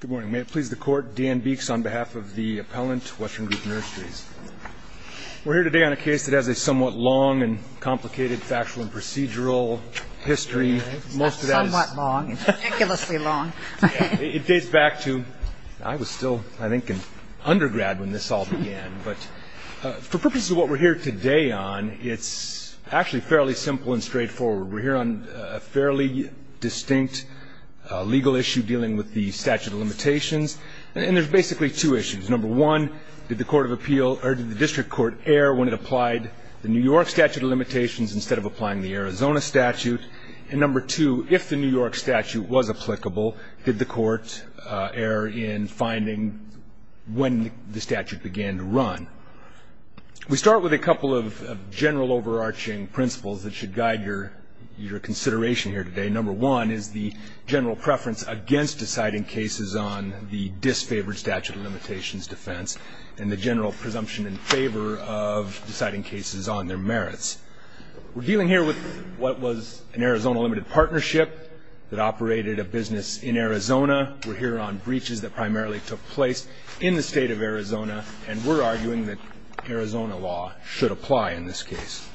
Good morning. May it please the Court, Dan Beeks on behalf of the appellant, Western Group Nurseries. We're here today on a case that has a somewhat long and complicated factual and procedural history. Somewhat long, ridiculously long. It dates back to, I was still, I think, an undergrad when this all began. But for purposes of what we're here today on, it's actually fairly simple and straightforward. We're here on a fairly distinct legal issue dealing with the statute of limitations. And there's basically two issues. Number one, did the District Court err when it applied the New York statute of limitations instead of applying the Arizona statute? And number two, if the New York statute was applicable, did the Court err in finding when the statute began to run? We start with a couple of general overarching principles that should guide your consideration here today. Number one is the general preference against deciding cases on the disfavored statute of limitations defense and the general presumption in favor of deciding cases on their merits. We're dealing here with what was an Arizona limited partnership that operated a business in Arizona. We're here on breaches that primarily took place in the state of Arizona. And we're arguing that Arizona law should apply in this case.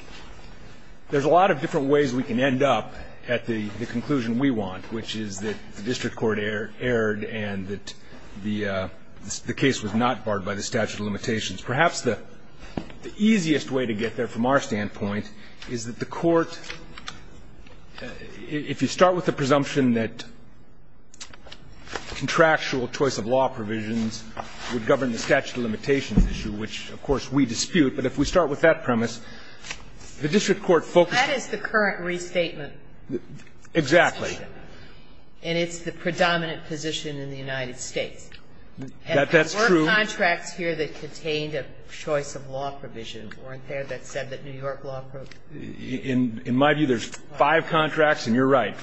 There's a lot of different ways we can end up at the conclusion we want, which is that the District Court erred and that the case was not barred by the statute of limitations. Perhaps the easiest way to get there from our standpoint is that the Court, if you start with the presumption that contractual choice of law provisions would govern the statute of limitations issue, which, of course, we dispute, but if we start with that premise, the District Court focused on the statute of limitations. That is the current restatement. Exactly. And it's the predominant position in the United States. That's true. And there were contracts here that contained a choice of law provision, weren't In my view, there's five contracts, and you're right.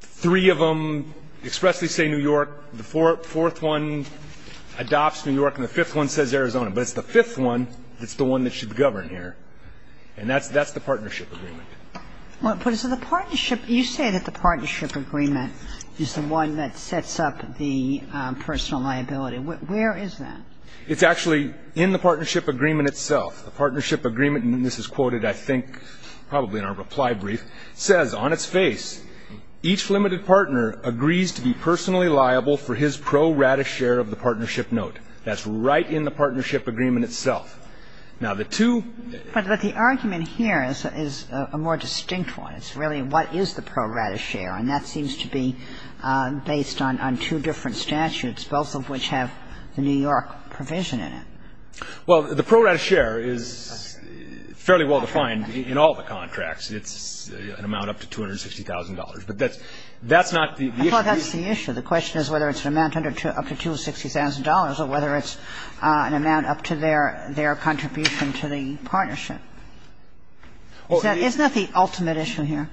Three of them expressly say New York. The fourth one adopts New York. And the fifth one says Arizona. But it's the fifth one that's the one that should govern here. And that's the partnership agreement. But is it the partnership? You say that the partnership agreement is the one that sets up the personal liability. Where is that? It's actually in the partnership agreement itself. The partnership agreement, and this is quoted, I think, probably in our reply brief, says, on its face, each limited partner agrees to be personally liable for his pro rata share of the partnership note. That's right in the partnership agreement itself. Now, the two But the argument here is a more distinct one. It's really what is the pro rata share, and that seems to be based on two different statutes, both of which have the New York provision in it. Well, the pro rata share is fairly well defined in all the contracts. It's an amount up to $260,000. But that's not the issue. I thought that's the issue. The question is whether it's an amount up to $260,000 or whether it's an amount up to their contribution to the partnership. Isn't that the ultimate issue here?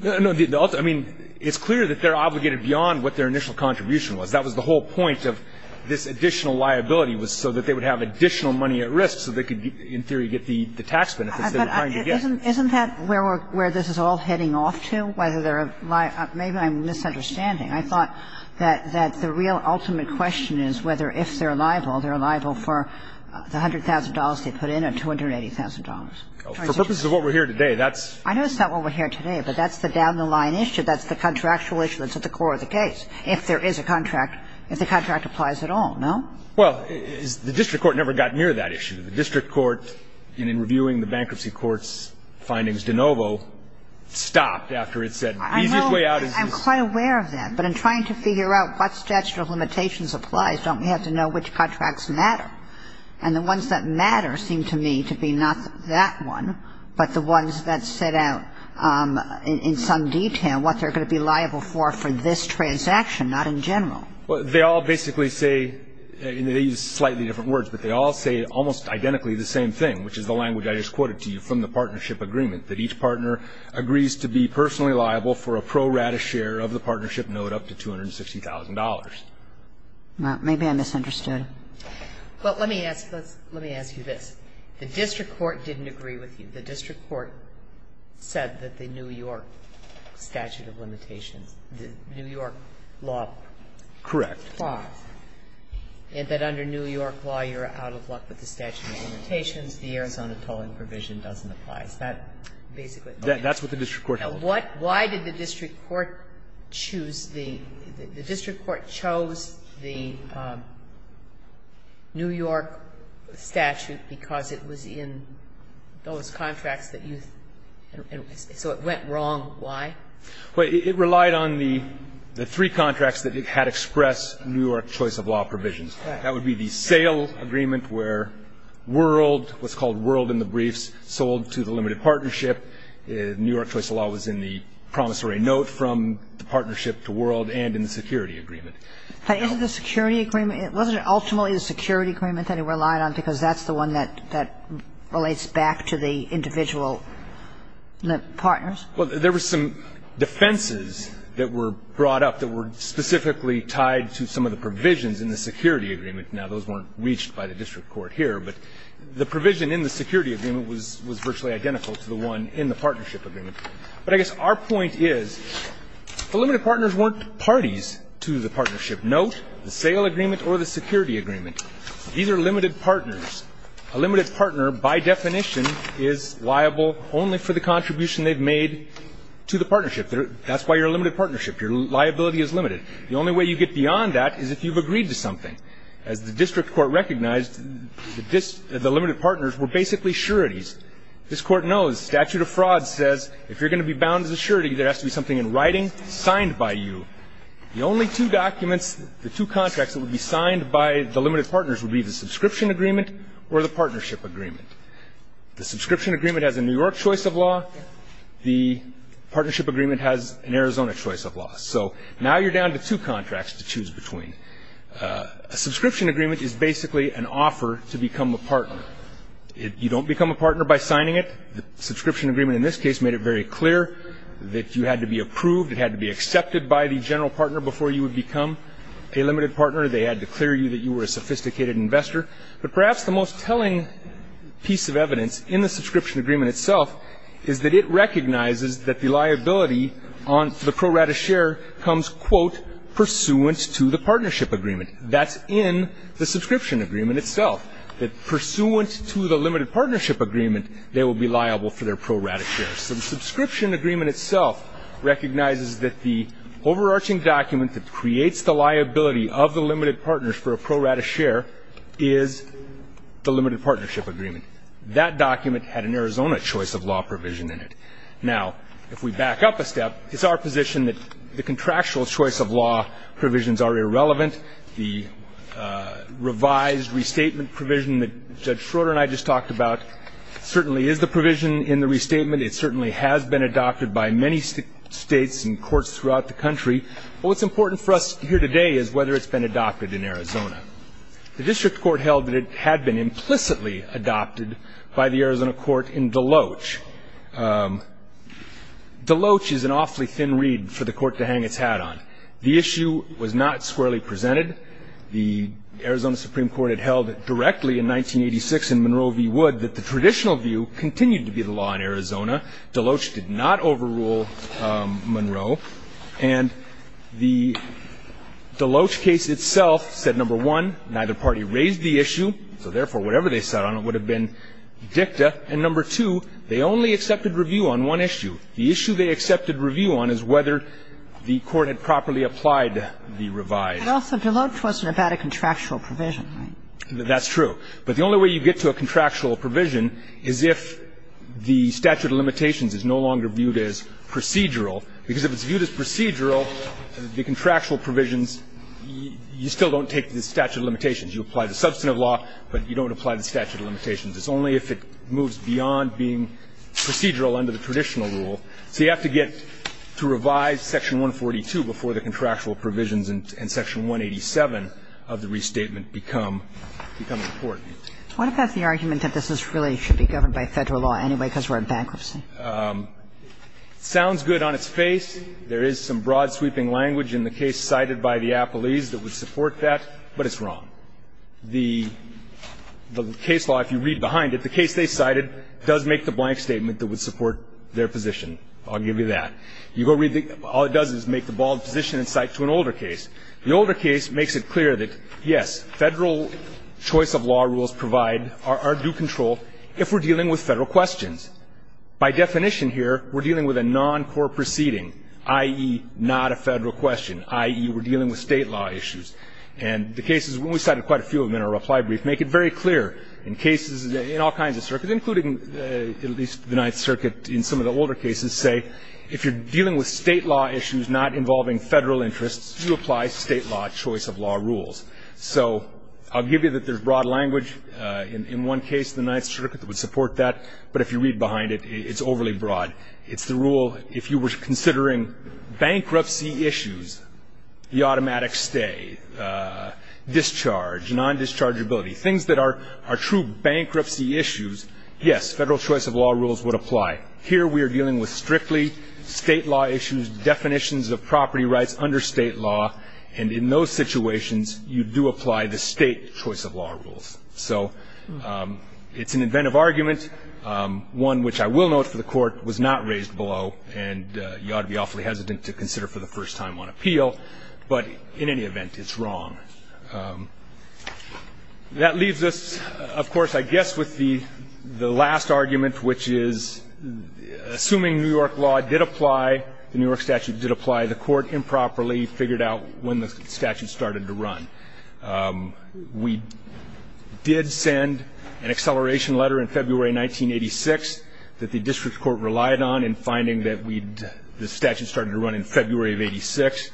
No. I mean, it's clear that they're obligated beyond what their initial contribution was. That was the whole point of this additional liability was so that they would have additional money at risk so they could, in theory, get the tax benefits they were trying to get. Isn't that where this is all heading off to, whether they're liable? Maybe I'm misunderstanding. I thought that the real ultimate question is whether if they're liable, they're liable for the $100,000 they put in or $280,000. For purposes of what we're here today, that's the down the line issue. That's the contractual issue that's at the core of the case. If there is a contract, if the contract applies at all, no? Well, the district court never got near that issue. The district court, in reviewing the bankruptcy court's findings de novo, stopped after it said the easiest way out is to... I know. I'm quite aware of that. But in trying to figure out what statute of limitations applies, don't we have to know which contracts matter? And the ones that matter seem to me to be not that one, but the ones that set out in some detail what they're going to be liable for for this transaction, not in general. Well, they all basically say, and they use slightly different words, but they all say almost identically the same thing, which is the language I just quoted to you from the partnership agreement, that each partner agrees to be personally liable for a pro rata share of the partnership note up to $260,000. Well, maybe I misunderstood. Well, let me ask you this. The district court didn't agree with you. The district court said that the New York statute of limitations, the New York law... Correct. Law, and that under New York law you're out of luck with the statute of limitations. The Arizona tolling provision doesn't apply. Is that basically what you're saying? That's what the district court held. Why did the district court choose the ñ the district court chose the New York statute of limitations? Because it was in those contracts that you ñ so it went wrong. Why? Well, it relied on the three contracts that had expressed New York choice of law provisions. That would be the sale agreement where world, what's called world in the briefs, sold to the limited partnership. New York choice of law was in the promissory note from the partnership to world and in the security agreement. But isn't the security agreement, wasn't it ultimately the security agreement that it relied on because that's the one that relates back to the individual partners? Well, there were some defenses that were brought up that were specifically tied to some of the provisions in the security agreement. Now, those weren't reached by the district court here, but the provision in the security agreement was virtually identical to the one in the partnership agreement. But I guess our point is the limited partners weren't parties to the partnership note, the sale agreement or the security agreement. These are limited partners. A limited partner, by definition, is liable only for the contribution they've made to the partnership. That's why you're a limited partnership. Your liability is limited. The only way you get beyond that is if you've agreed to something. As the district court recognized, the limited partners were basically sureties. This Court knows statute of fraud says if you're going to be bound as a surety, there has to be something in writing signed by you. The only two documents, the two contracts that would be signed by the limited partners would be the subscription agreement or the partnership agreement. The subscription agreement has a New York choice of law. The partnership agreement has an Arizona choice of law. So now you're down to two contracts to choose between. A subscription agreement is basically an offer to become a partner. You don't become a partner by signing it. The subscription agreement in this case made it very clear that you had to be approved, it had to be accepted by the general partner before you would become a limited partner. They had to clear you that you were a sophisticated investor. But perhaps the most telling piece of evidence in the subscription agreement itself is that it recognizes that the liability on the pro rata share comes, quote, pursuant to the partnership agreement. That's in the subscription agreement itself, that pursuant to the limited partnership agreement, they will be liable for their pro rata shares. So the subscription agreement itself recognizes that the overarching document that creates the liability of the limited partners for a pro rata share is the limited partnership agreement. That document had an Arizona choice of law provision in it. Now, if we back up a step, it's our position that the contractual choice of law provisions are irrelevant. The revised restatement provision that Judge Schroeder and I just talked about certainly is the provision in the restatement. It certainly has been adopted by many states and courts throughout the country. But what's important for us here today is whether it's been adopted in Arizona. The district court held that it had been implicitly adopted by the Arizona court in Deloach. Deloach is an awfully thin reed for the court to hang its hat on. The issue was not squarely presented. The Arizona Supreme Court had held directly in 1986 in Monroe v. Wood that the traditional view continued to be the law in Arizona. Deloach did not overrule Monroe. And the Deloach case itself said, number one, neither party raised the issue, so therefore, whatever they sat on, it would have been dicta. And number two, they only accepted review on one issue. The issue they accepted review on is whether the court had properly applied the revised. But also Deloach wasn't about a contractual provision, right? That's true. But the only way you get to a contractual provision is if the statute of limitations is no longer viewed as procedural. Because if it's viewed as procedural, the contractual provisions, you still don't take the statute of limitations. You apply the substantive law, but you don't apply the statute of limitations. It's only if it moves beyond being procedural under the traditional rule. So you have to get to revise section 142 before the contractual provisions and section 187 of the restatement become important. What about the argument that this really should be governed by Federal law anyway because we're in bankruptcy? It sounds good on its face. There is some broad sweeping language in the case cited by the appellees that would support that, but it's wrong. The case law, if you read behind it, the case they cited does make the blank statement that would support their position. I'll give you that. All it does is make the bald position and cite to an older case. The older case makes it clear that, yes, Federal choice of law rules provide our due control if we're dealing with Federal questions. By definition here, we're dealing with a noncore proceeding, i.e., not a Federal question, i.e., we're dealing with State law issues. And the cases, we cited quite a few of them in our reply brief, make it very clear in cases in all kinds of circuits, including at least the Ninth Circuit in some of the older cases, say if you're dealing with State law issues not involving Federal interests, you apply State law choice of law rules. So I'll give you that there's broad language. In one case, the Ninth Circuit would support that, but if you read behind it, it's overly broad. It's the rule if you were considering bankruptcy issues, the automatic stay, discharge, non-dischargeability, things that are true bankruptcy issues, yes, Federal choice of law rules would apply. Here, we are dealing with strictly State law issues, definitions of property rights under State law, and in those situations, you do apply the State choice of law rules. So it's an inventive argument, one which I will note for the Court was not raised below, and you ought to be awfully hesitant to consider for the first time on appeal. But in any event, it's wrong. That leaves us, of course, I guess with the last argument, which is assuming New York law did apply, the New York statute did apply, the Court improperly figured out when the statute started to run. We did send an acceleration letter in February 1986 that the district court relied on in finding that the statute started to run in February of 86.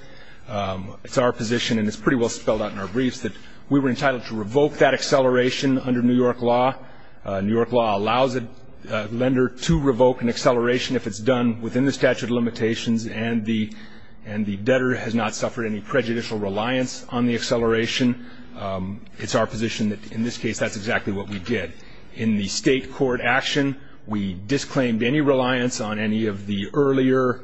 It's our position, and it's pretty well spelled out in our briefs, that we were entitled to revoke that acceleration under New York law. New York law allows a lender to revoke an acceleration if it's done within the statute of limitations and the debtor has not suffered any prejudicial reliance on the acceleration. It's our position that in this case, that's exactly what we did. In the State court action, we disclaimed any reliance on any of the earlier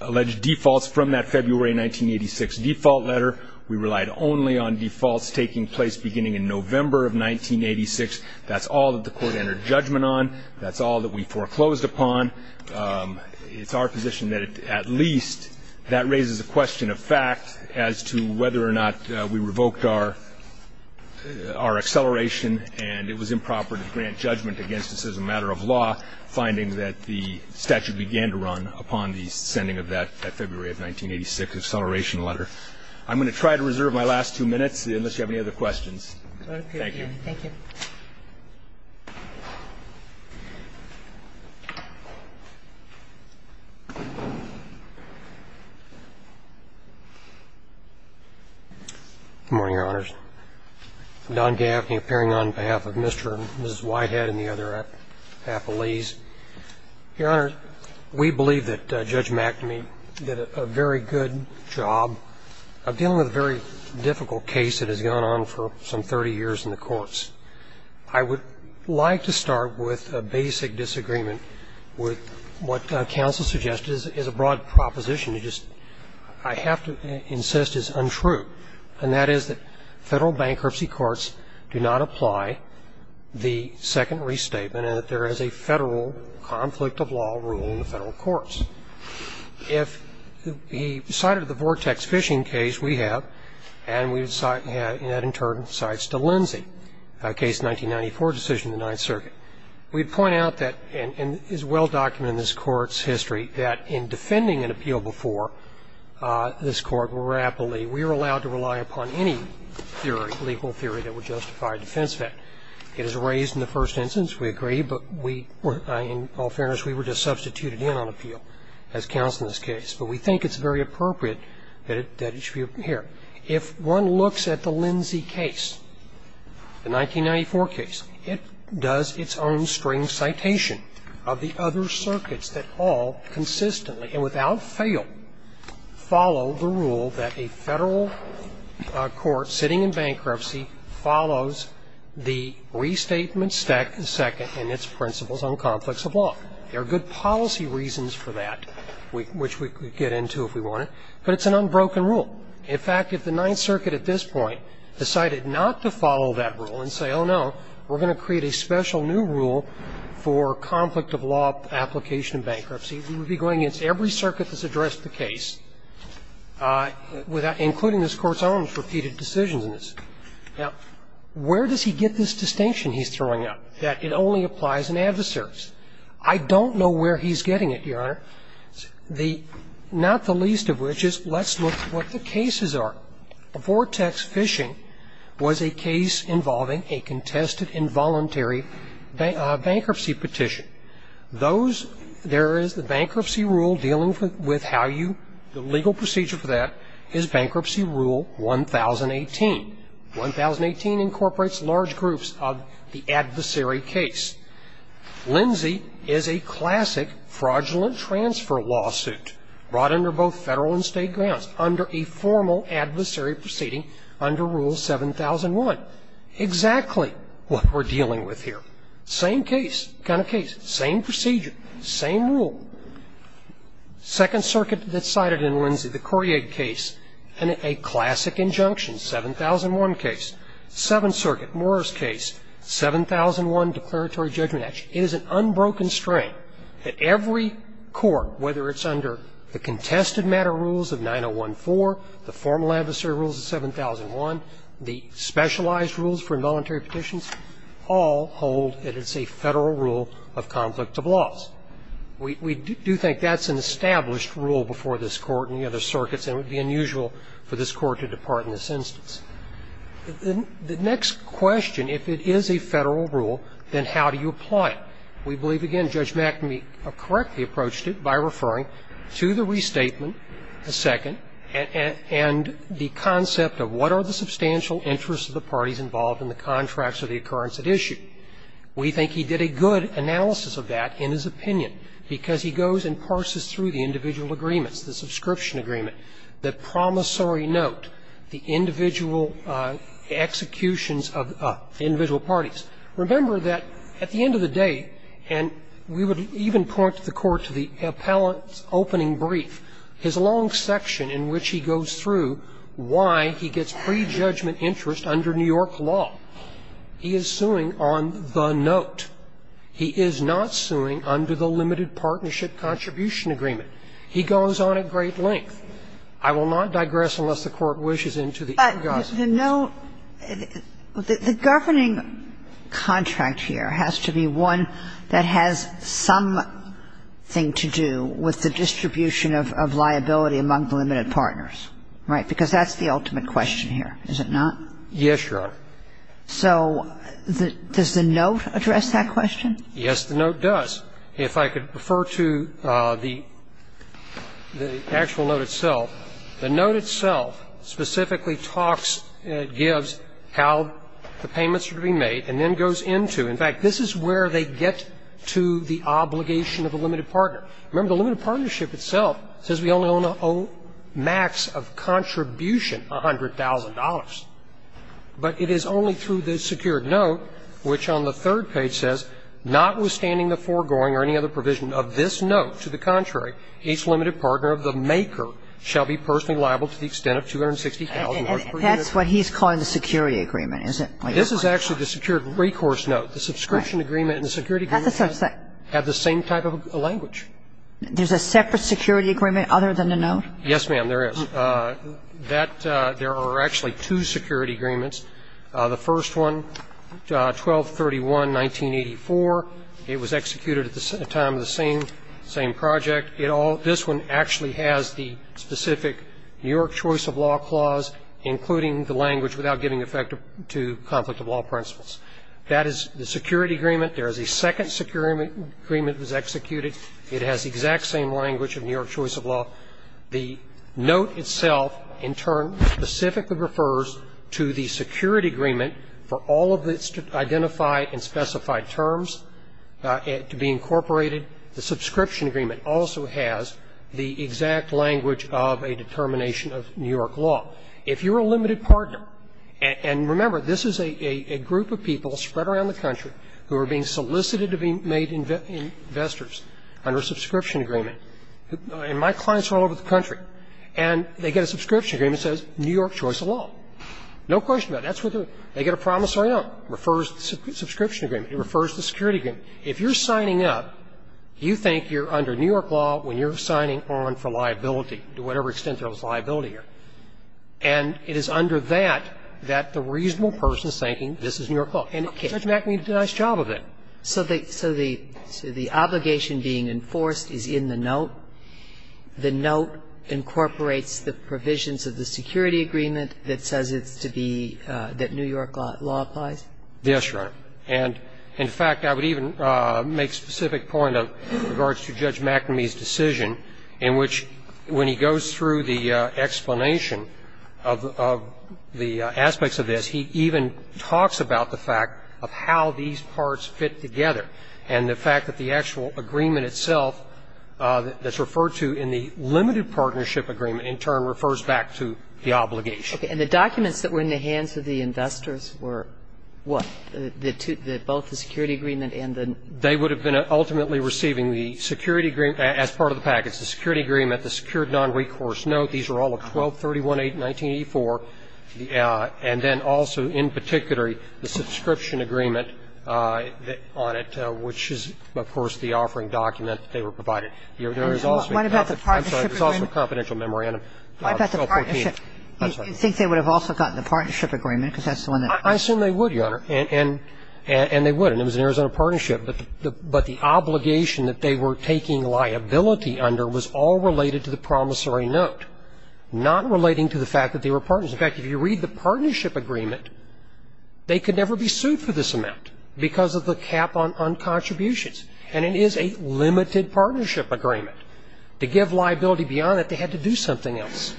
alleged defaults from that February 1986 default letter. We relied only on defaults taking place beginning in November of 1986. That's all that the court entered judgment on. That's all that we foreclosed upon. It's our position that at least that raises a question of fact as to whether or not we revoked our acceleration and it was improper to grant judgment against us as a matter of law, finding that the statute began to run upon the sending of that February of 1986 acceleration letter. I'm going to try to reserve my last two minutes unless you have any other questions. Thank you. Thank you. Good morning, Your Honors. I'm Don Gaffney, appearing on behalf of Mr. and Mrs. Whitehead and the other affilies. Your Honor, we believe that Judge McNamee did a very good job of dealing with a very difficult case that has gone on for some 30 years in the courts. I would like to start with a basic disagreement with what counsel suggested is a broad proposition. I have to insist it's untrue, and that is that Federal bankruptcy courts do not apply the second restatement and that there is a Federal conflict of law rule in the Federal courts. If he cited the Vortex fishing case we have, and we had in turn cited Stalinzi, a case in 1994 decision in the Ninth Circuit. We point out that, and is well documented in this court's history, that in defending an appeal before this court rapidly, we are allowed to rely upon any legal theory that would justify a defense of that. It is raised in the first instance, we agree, but in all fairness, we were just substituted in on appeal as counsel in this case. But we think it's very appropriate that it should be here. If one looks at the Lindsay case, the 1994 case, it does its own string citation of the other circuits that all consistently and without fail follow the rule that a Federal court sitting in bankruptcy follows the restatement second and its principles on conflicts of law. There are good policy reasons for that, which we could get into if we wanted, but it's an unbroken rule. In fact, if the Ninth Circuit at this point decided not to follow that rule and say, well, no, we're going to create a special new rule for conflict of law application in bankruptcy, we would be going against every circuit that's addressed the case, including this Court's own repeated decisions in this. Now, where does he get this distinction he's throwing out, that it only applies in adversaries? I don't know where he's getting it, Your Honor, not the least of which is let's look at what the cases are. Vortex Phishing was a case involving a contested involuntary bankruptcy petition. Those, there is the bankruptcy rule dealing with how you, the legal procedure for that is Bankruptcy Rule 1018. 1018 incorporates large groups of the adversary case. Lindsay is a classic fraudulent transfer lawsuit brought under both Federal and State grounds under a formal adversary proceeding under Rule 7001. Exactly what we're dealing with here. Same case, kind of case, same procedure, same rule. Second Circuit decided in Lindsay, the Courier case, and a classic injunction, 7001 case. Seventh Circuit, Moore's case, 7001 Declaratory Judgment Act. It is an unbroken strain that every court, whether it's under the contested matter rules of 9014, the formal adversary rules of 7001, the specialized rules for involuntary petitions, all hold that it's a Federal rule of conflict of laws. We do think that's an established rule before this Court and the other circuits and it would be unusual for this Court to depart in this instance. The next question, if it is a Federal rule, then how do you apply it? We believe, again, Judge McNamee correctly approached it by referring to the restatement, the second, and the concept of what are the substantial interests of the parties involved in the contracts or the occurrence at issue. We think he did a good analysis of that in his opinion, because he goes and parses through the individual agreements, the subscription agreement, the promissory note, the individual executions of the individual parties. Remember that at the end of the day, and we would even point the Court to the appellant's opening brief, his long section in which he goes through why he gets prejudgment interest under New York law. He is suing on the note. He is not suing under the limited partnership contribution agreement. He goes on at great length. I will not digress unless the Court wishes into the engagement. But the note, the governing contract here has to be one that has something to do with the distribution of liability among the limited partners, right? Because that's the ultimate question here, is it not? Yes, Your Honor. So does the note address that question? Yes, the note does. If I could refer to the actual note itself. The note itself specifically talks, gives how the payments are to be made and then goes into, in fact, this is where they get to the obligation of a limited partner. Remember, the limited partnership itself says we only own a max of contribution $100,000, but it is only through the secured note, which on the third page says, notwithstanding the foregoing or any other provision of this note, to the contrary, each limited partner of the maker shall be personally liable to the extent of $260,000 per unit. And that's what he's calling the security agreement, is it? This is actually the secured recourse note. The subscription agreement and the security agreement have the same type of language. There's a separate security agreement other than the note? Yes, ma'am, there is. That, there are actually two security agreements. The first one, 1231, 1984, it was executed at the time of the same project. It all, this one actually has the specific New York choice of law clause, including the language without giving effect to conflict of law principles. That is the security agreement. There is a second security agreement that was executed. It has the exact same language of New York choice of law. The note itself, in turn, specifically refers to the security agreement for all of its identified and specified terms to be incorporated. The subscription agreement also has the exact language of a determination of New York law. If you're a limited partner, and remember, this is a group of people spread around the country who are being solicited to be made investors under a subscription agreement, and my clients are all over the country. And they get a subscription agreement that says New York choice of law. No question about it. That's what they're doing. They get a promissory note. It refers to the subscription agreement. It refers to the security agreement. If you're signing up, you think you're under New York law when you're signing on for liability, to whatever extent there is liability here. And it is under that that the reasonable person is thinking this is New York law. And Judge Mackney did a nice job of that. So the obligation being enforced is in the note. The note incorporates the provisions of the security agreement that says it's to be that New York law applies? Yes, Your Honor. And, in fact, I would even make specific point in regards to Judge Mackney's decision in which when he goes through the explanation of the aspects of this, he even talks about the fact of how these parts fit together. And the fact that the actual agreement itself that's referred to in the limited partnership agreement in turn refers back to the obligation. Okay. And the documents that were in the hands of the investors were what? Both the security agreement and the? They would have been ultimately receiving the security agreement as part of the package, the security agreement, the secured nonrecourse note. So the pre-release agreement, the nonrecourse note, the nonrecourse note, the nonrecourse note, the nonrecourse note, these are all the 1231, 1984, and then also in particular the subscription agreement on it, which is, of course, the offering document that they were provided. There's also the confidential memorandum. What about the partnership? You think they would have also gotten the partnership agreement, because that's the one that? I assume they would, Your Honor, and they would, and it was an Arizona partnership, but the obligation that they were taking liability under was all related to the promissory note, not relating to the fact that they were partners. In fact, if you read the partnership agreement, they could never be sued for this amount because of the cap on contributions, and it is a limited partnership agreement. To give liability beyond that, they had to do something else,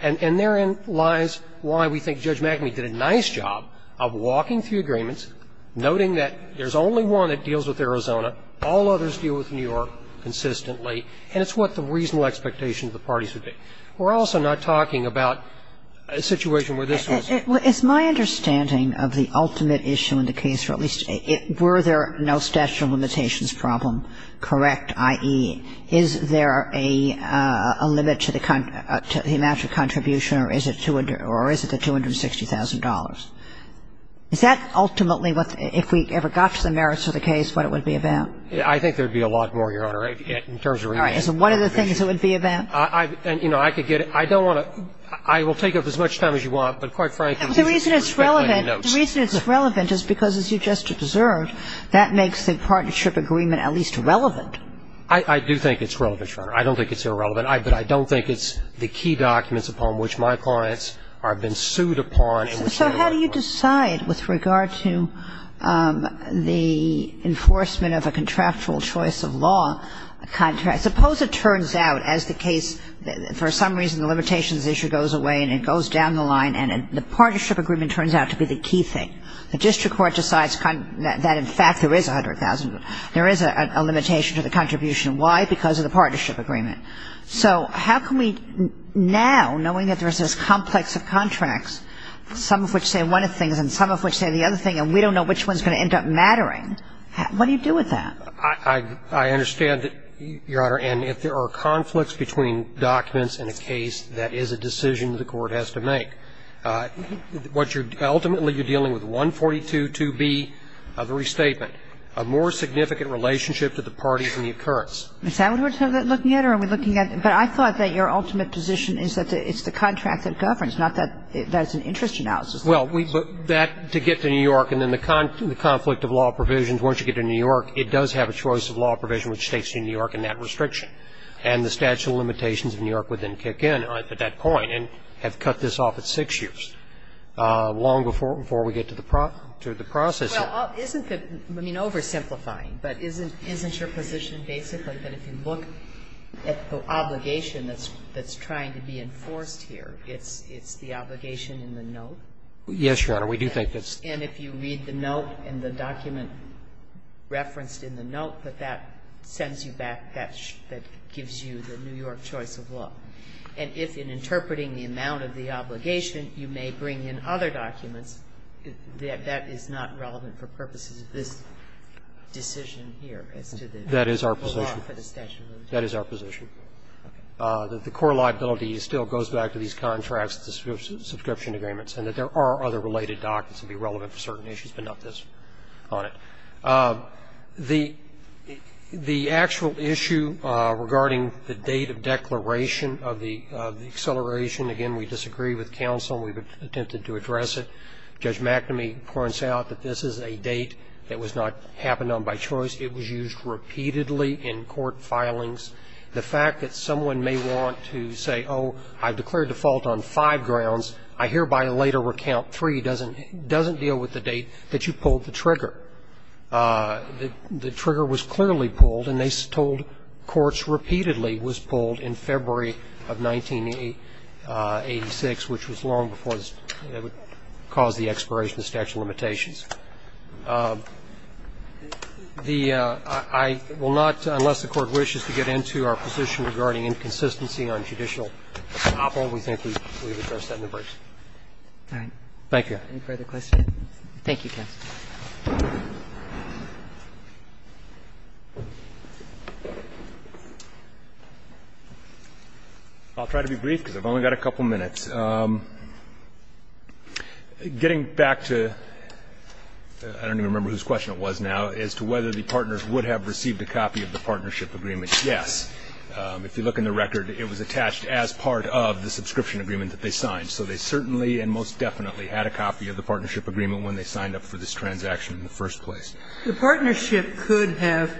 and therein lies why we think Judge McAmey did a nice job of walking through agreements, noting that there's only one that deals with Arizona, all others deal with New York consistently, and it's what the reasonable expectations of the parties would be. We're also not talking about a situation where this was. It's my understanding of the ultimate issue in the case, or at least, were there no statute of limitations problem, correct, i.e., is there a limit to the amount of contribution or is it the $260,000? Is that ultimately what, if we ever got to the merits of the case, what it would be about? I think there would be a lot more, Your Honor, in terms of remand. All right. Is it one of the things it would be about? I could get it. I don't want to – I will take up as much time as you want, but quite frankly, these are two very lengthy notes. The reason it's relevant is because, as you just observed, that makes the partnership agreement at least relevant. I do think it's relevant, Your Honor. I don't think it's irrelevant. But I don't think it's the key documents upon which my clients have been sued upon and were sued upon. So how do you decide with regard to the enforcement of a contractual choice of law contract? Suppose it turns out, as the case, for some reason the limitations issue goes away and it goes down the line and the partnership agreement turns out to be the key thing. The district court decides that, in fact, there is $100,000. There is a limitation to the contribution. Why? Because of the partnership agreement. So how can we now, knowing that there is this complex of contracts, some of which say one of the things and some of which say the other thing and we don't know which one is going to end up mattering, what do you do with that? I understand, Your Honor, and if there are conflicts between documents in a case, that is a decision the court has to make. Ultimately, you're dealing with 142.2b of the restatement, a more significant relationship to the parties in the occurrence. Is that what we're looking at or are we looking at? But I thought that your ultimate position is that it's the contract that governs, not that it's an interest analysis. Well, that, to get to New York and then the conflict of law provisions, once you get to New York, it does have a choice of law provision which takes you to New York and that restriction. And the statute of limitations of New York would then kick in at that point and have cut this off at six years, long before we get to the process here. Well, isn't it, I mean, oversimplifying, but isn't your position basically that if you look at the obligation that's trying to be enforced here, it's the obligation in the note? Yes, Your Honor, we do think that's the case. And if you read the note and the document referenced in the note, that that sends you back, that gives you the New York choice of law. And if in interpreting the amount of the obligation, you may bring in other documents, that is not relevant for purposes of this decision here as to the law for the statute of limitations. That is our position. That the core liability still goes back to these contracts, the subscription agreements, and that there are other related documents that would be relevant for certain issues, but not this on it. The actual issue regarding the date of declaration of the acceleration, again, we disagree with counsel, and we've attempted to address it. Judge McNamee points out that this is a date that was not happened on by choice. It was used repeatedly in court filings. The fact that someone may want to say, oh, I've declared default on five grounds, I hereby later recount three, doesn't deal with the date that you pulled the trigger. The trigger was clearly pulled, and they told courts repeatedly was pulled in February of 1986, which was long before it caused the expiration of statute of limitations. I will not, unless the Court wishes to get into our position regarding inconsistency on judicial apopo, we think we've addressed that in the briefs. Thank you. Any further questions? Thank you, counsel. I'll try to be brief because I've only got a couple minutes. Getting back to, I don't even remember whose question it was now, as to whether the partners would have received a copy of the partnership agreement, yes. If you look in the record, it was attached as part of the subscription agreement that they signed. So they certainly and most definitely had a copy of the partnership agreement when they signed up for this transaction in the first place. The partnership could have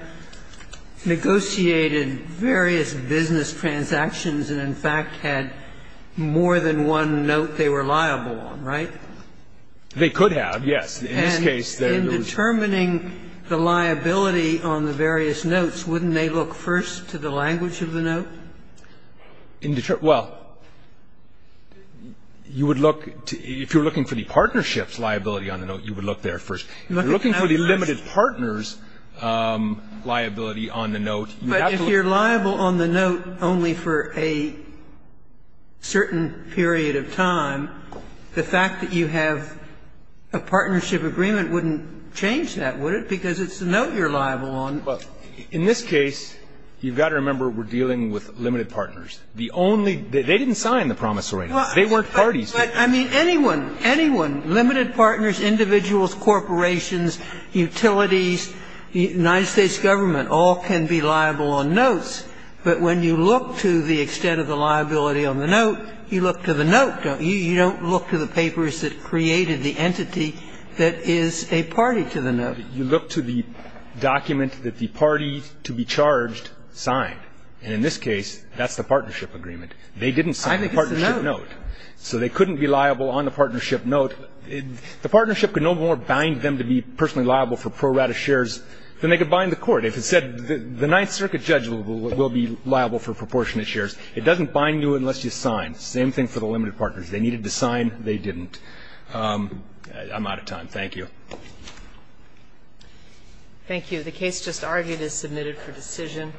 negotiated various business transactions and, in fact, had more than one note they were liable on, right? They could have, yes. In this case, there would be two. And in determining the liability on the various notes, wouldn't they look first to the language of the note? If you're liable on the note, you would look there first. If you're looking for the limited partners' liability on the note, you'd have to look first. But if you're liable on the note only for a certain period of time, the fact that you have a partnership agreement wouldn't change that, would it? Because it's the note you're liable on. Well, in this case, you've got to remember we're dealing with limited partners. The only they didn't sign the promise arrangements. They weren't parties. But, I mean, anyone, anyone, limited partners, individuals, corporations, utilities, United States government, all can be liable on notes. But when you look to the extent of the liability on the note, you look to the note. You don't look to the papers that created the entity that is a party to the note. You look to the document that the party to be charged signed. And in this case, that's the partnership agreement. They didn't sign the partnership note. I think it's the note. So they couldn't be liable on the partnership note. The partnership could no more bind them to be personally liable for pro rata shares than they could bind the court. If it said the Ninth Circuit judge will be liable for proportionate shares. It doesn't bind you unless you sign. Same thing for the limited partners. They needed to sign. They didn't. I'm out of time. Thank you. Thank you. The case just argued is submitted for decision.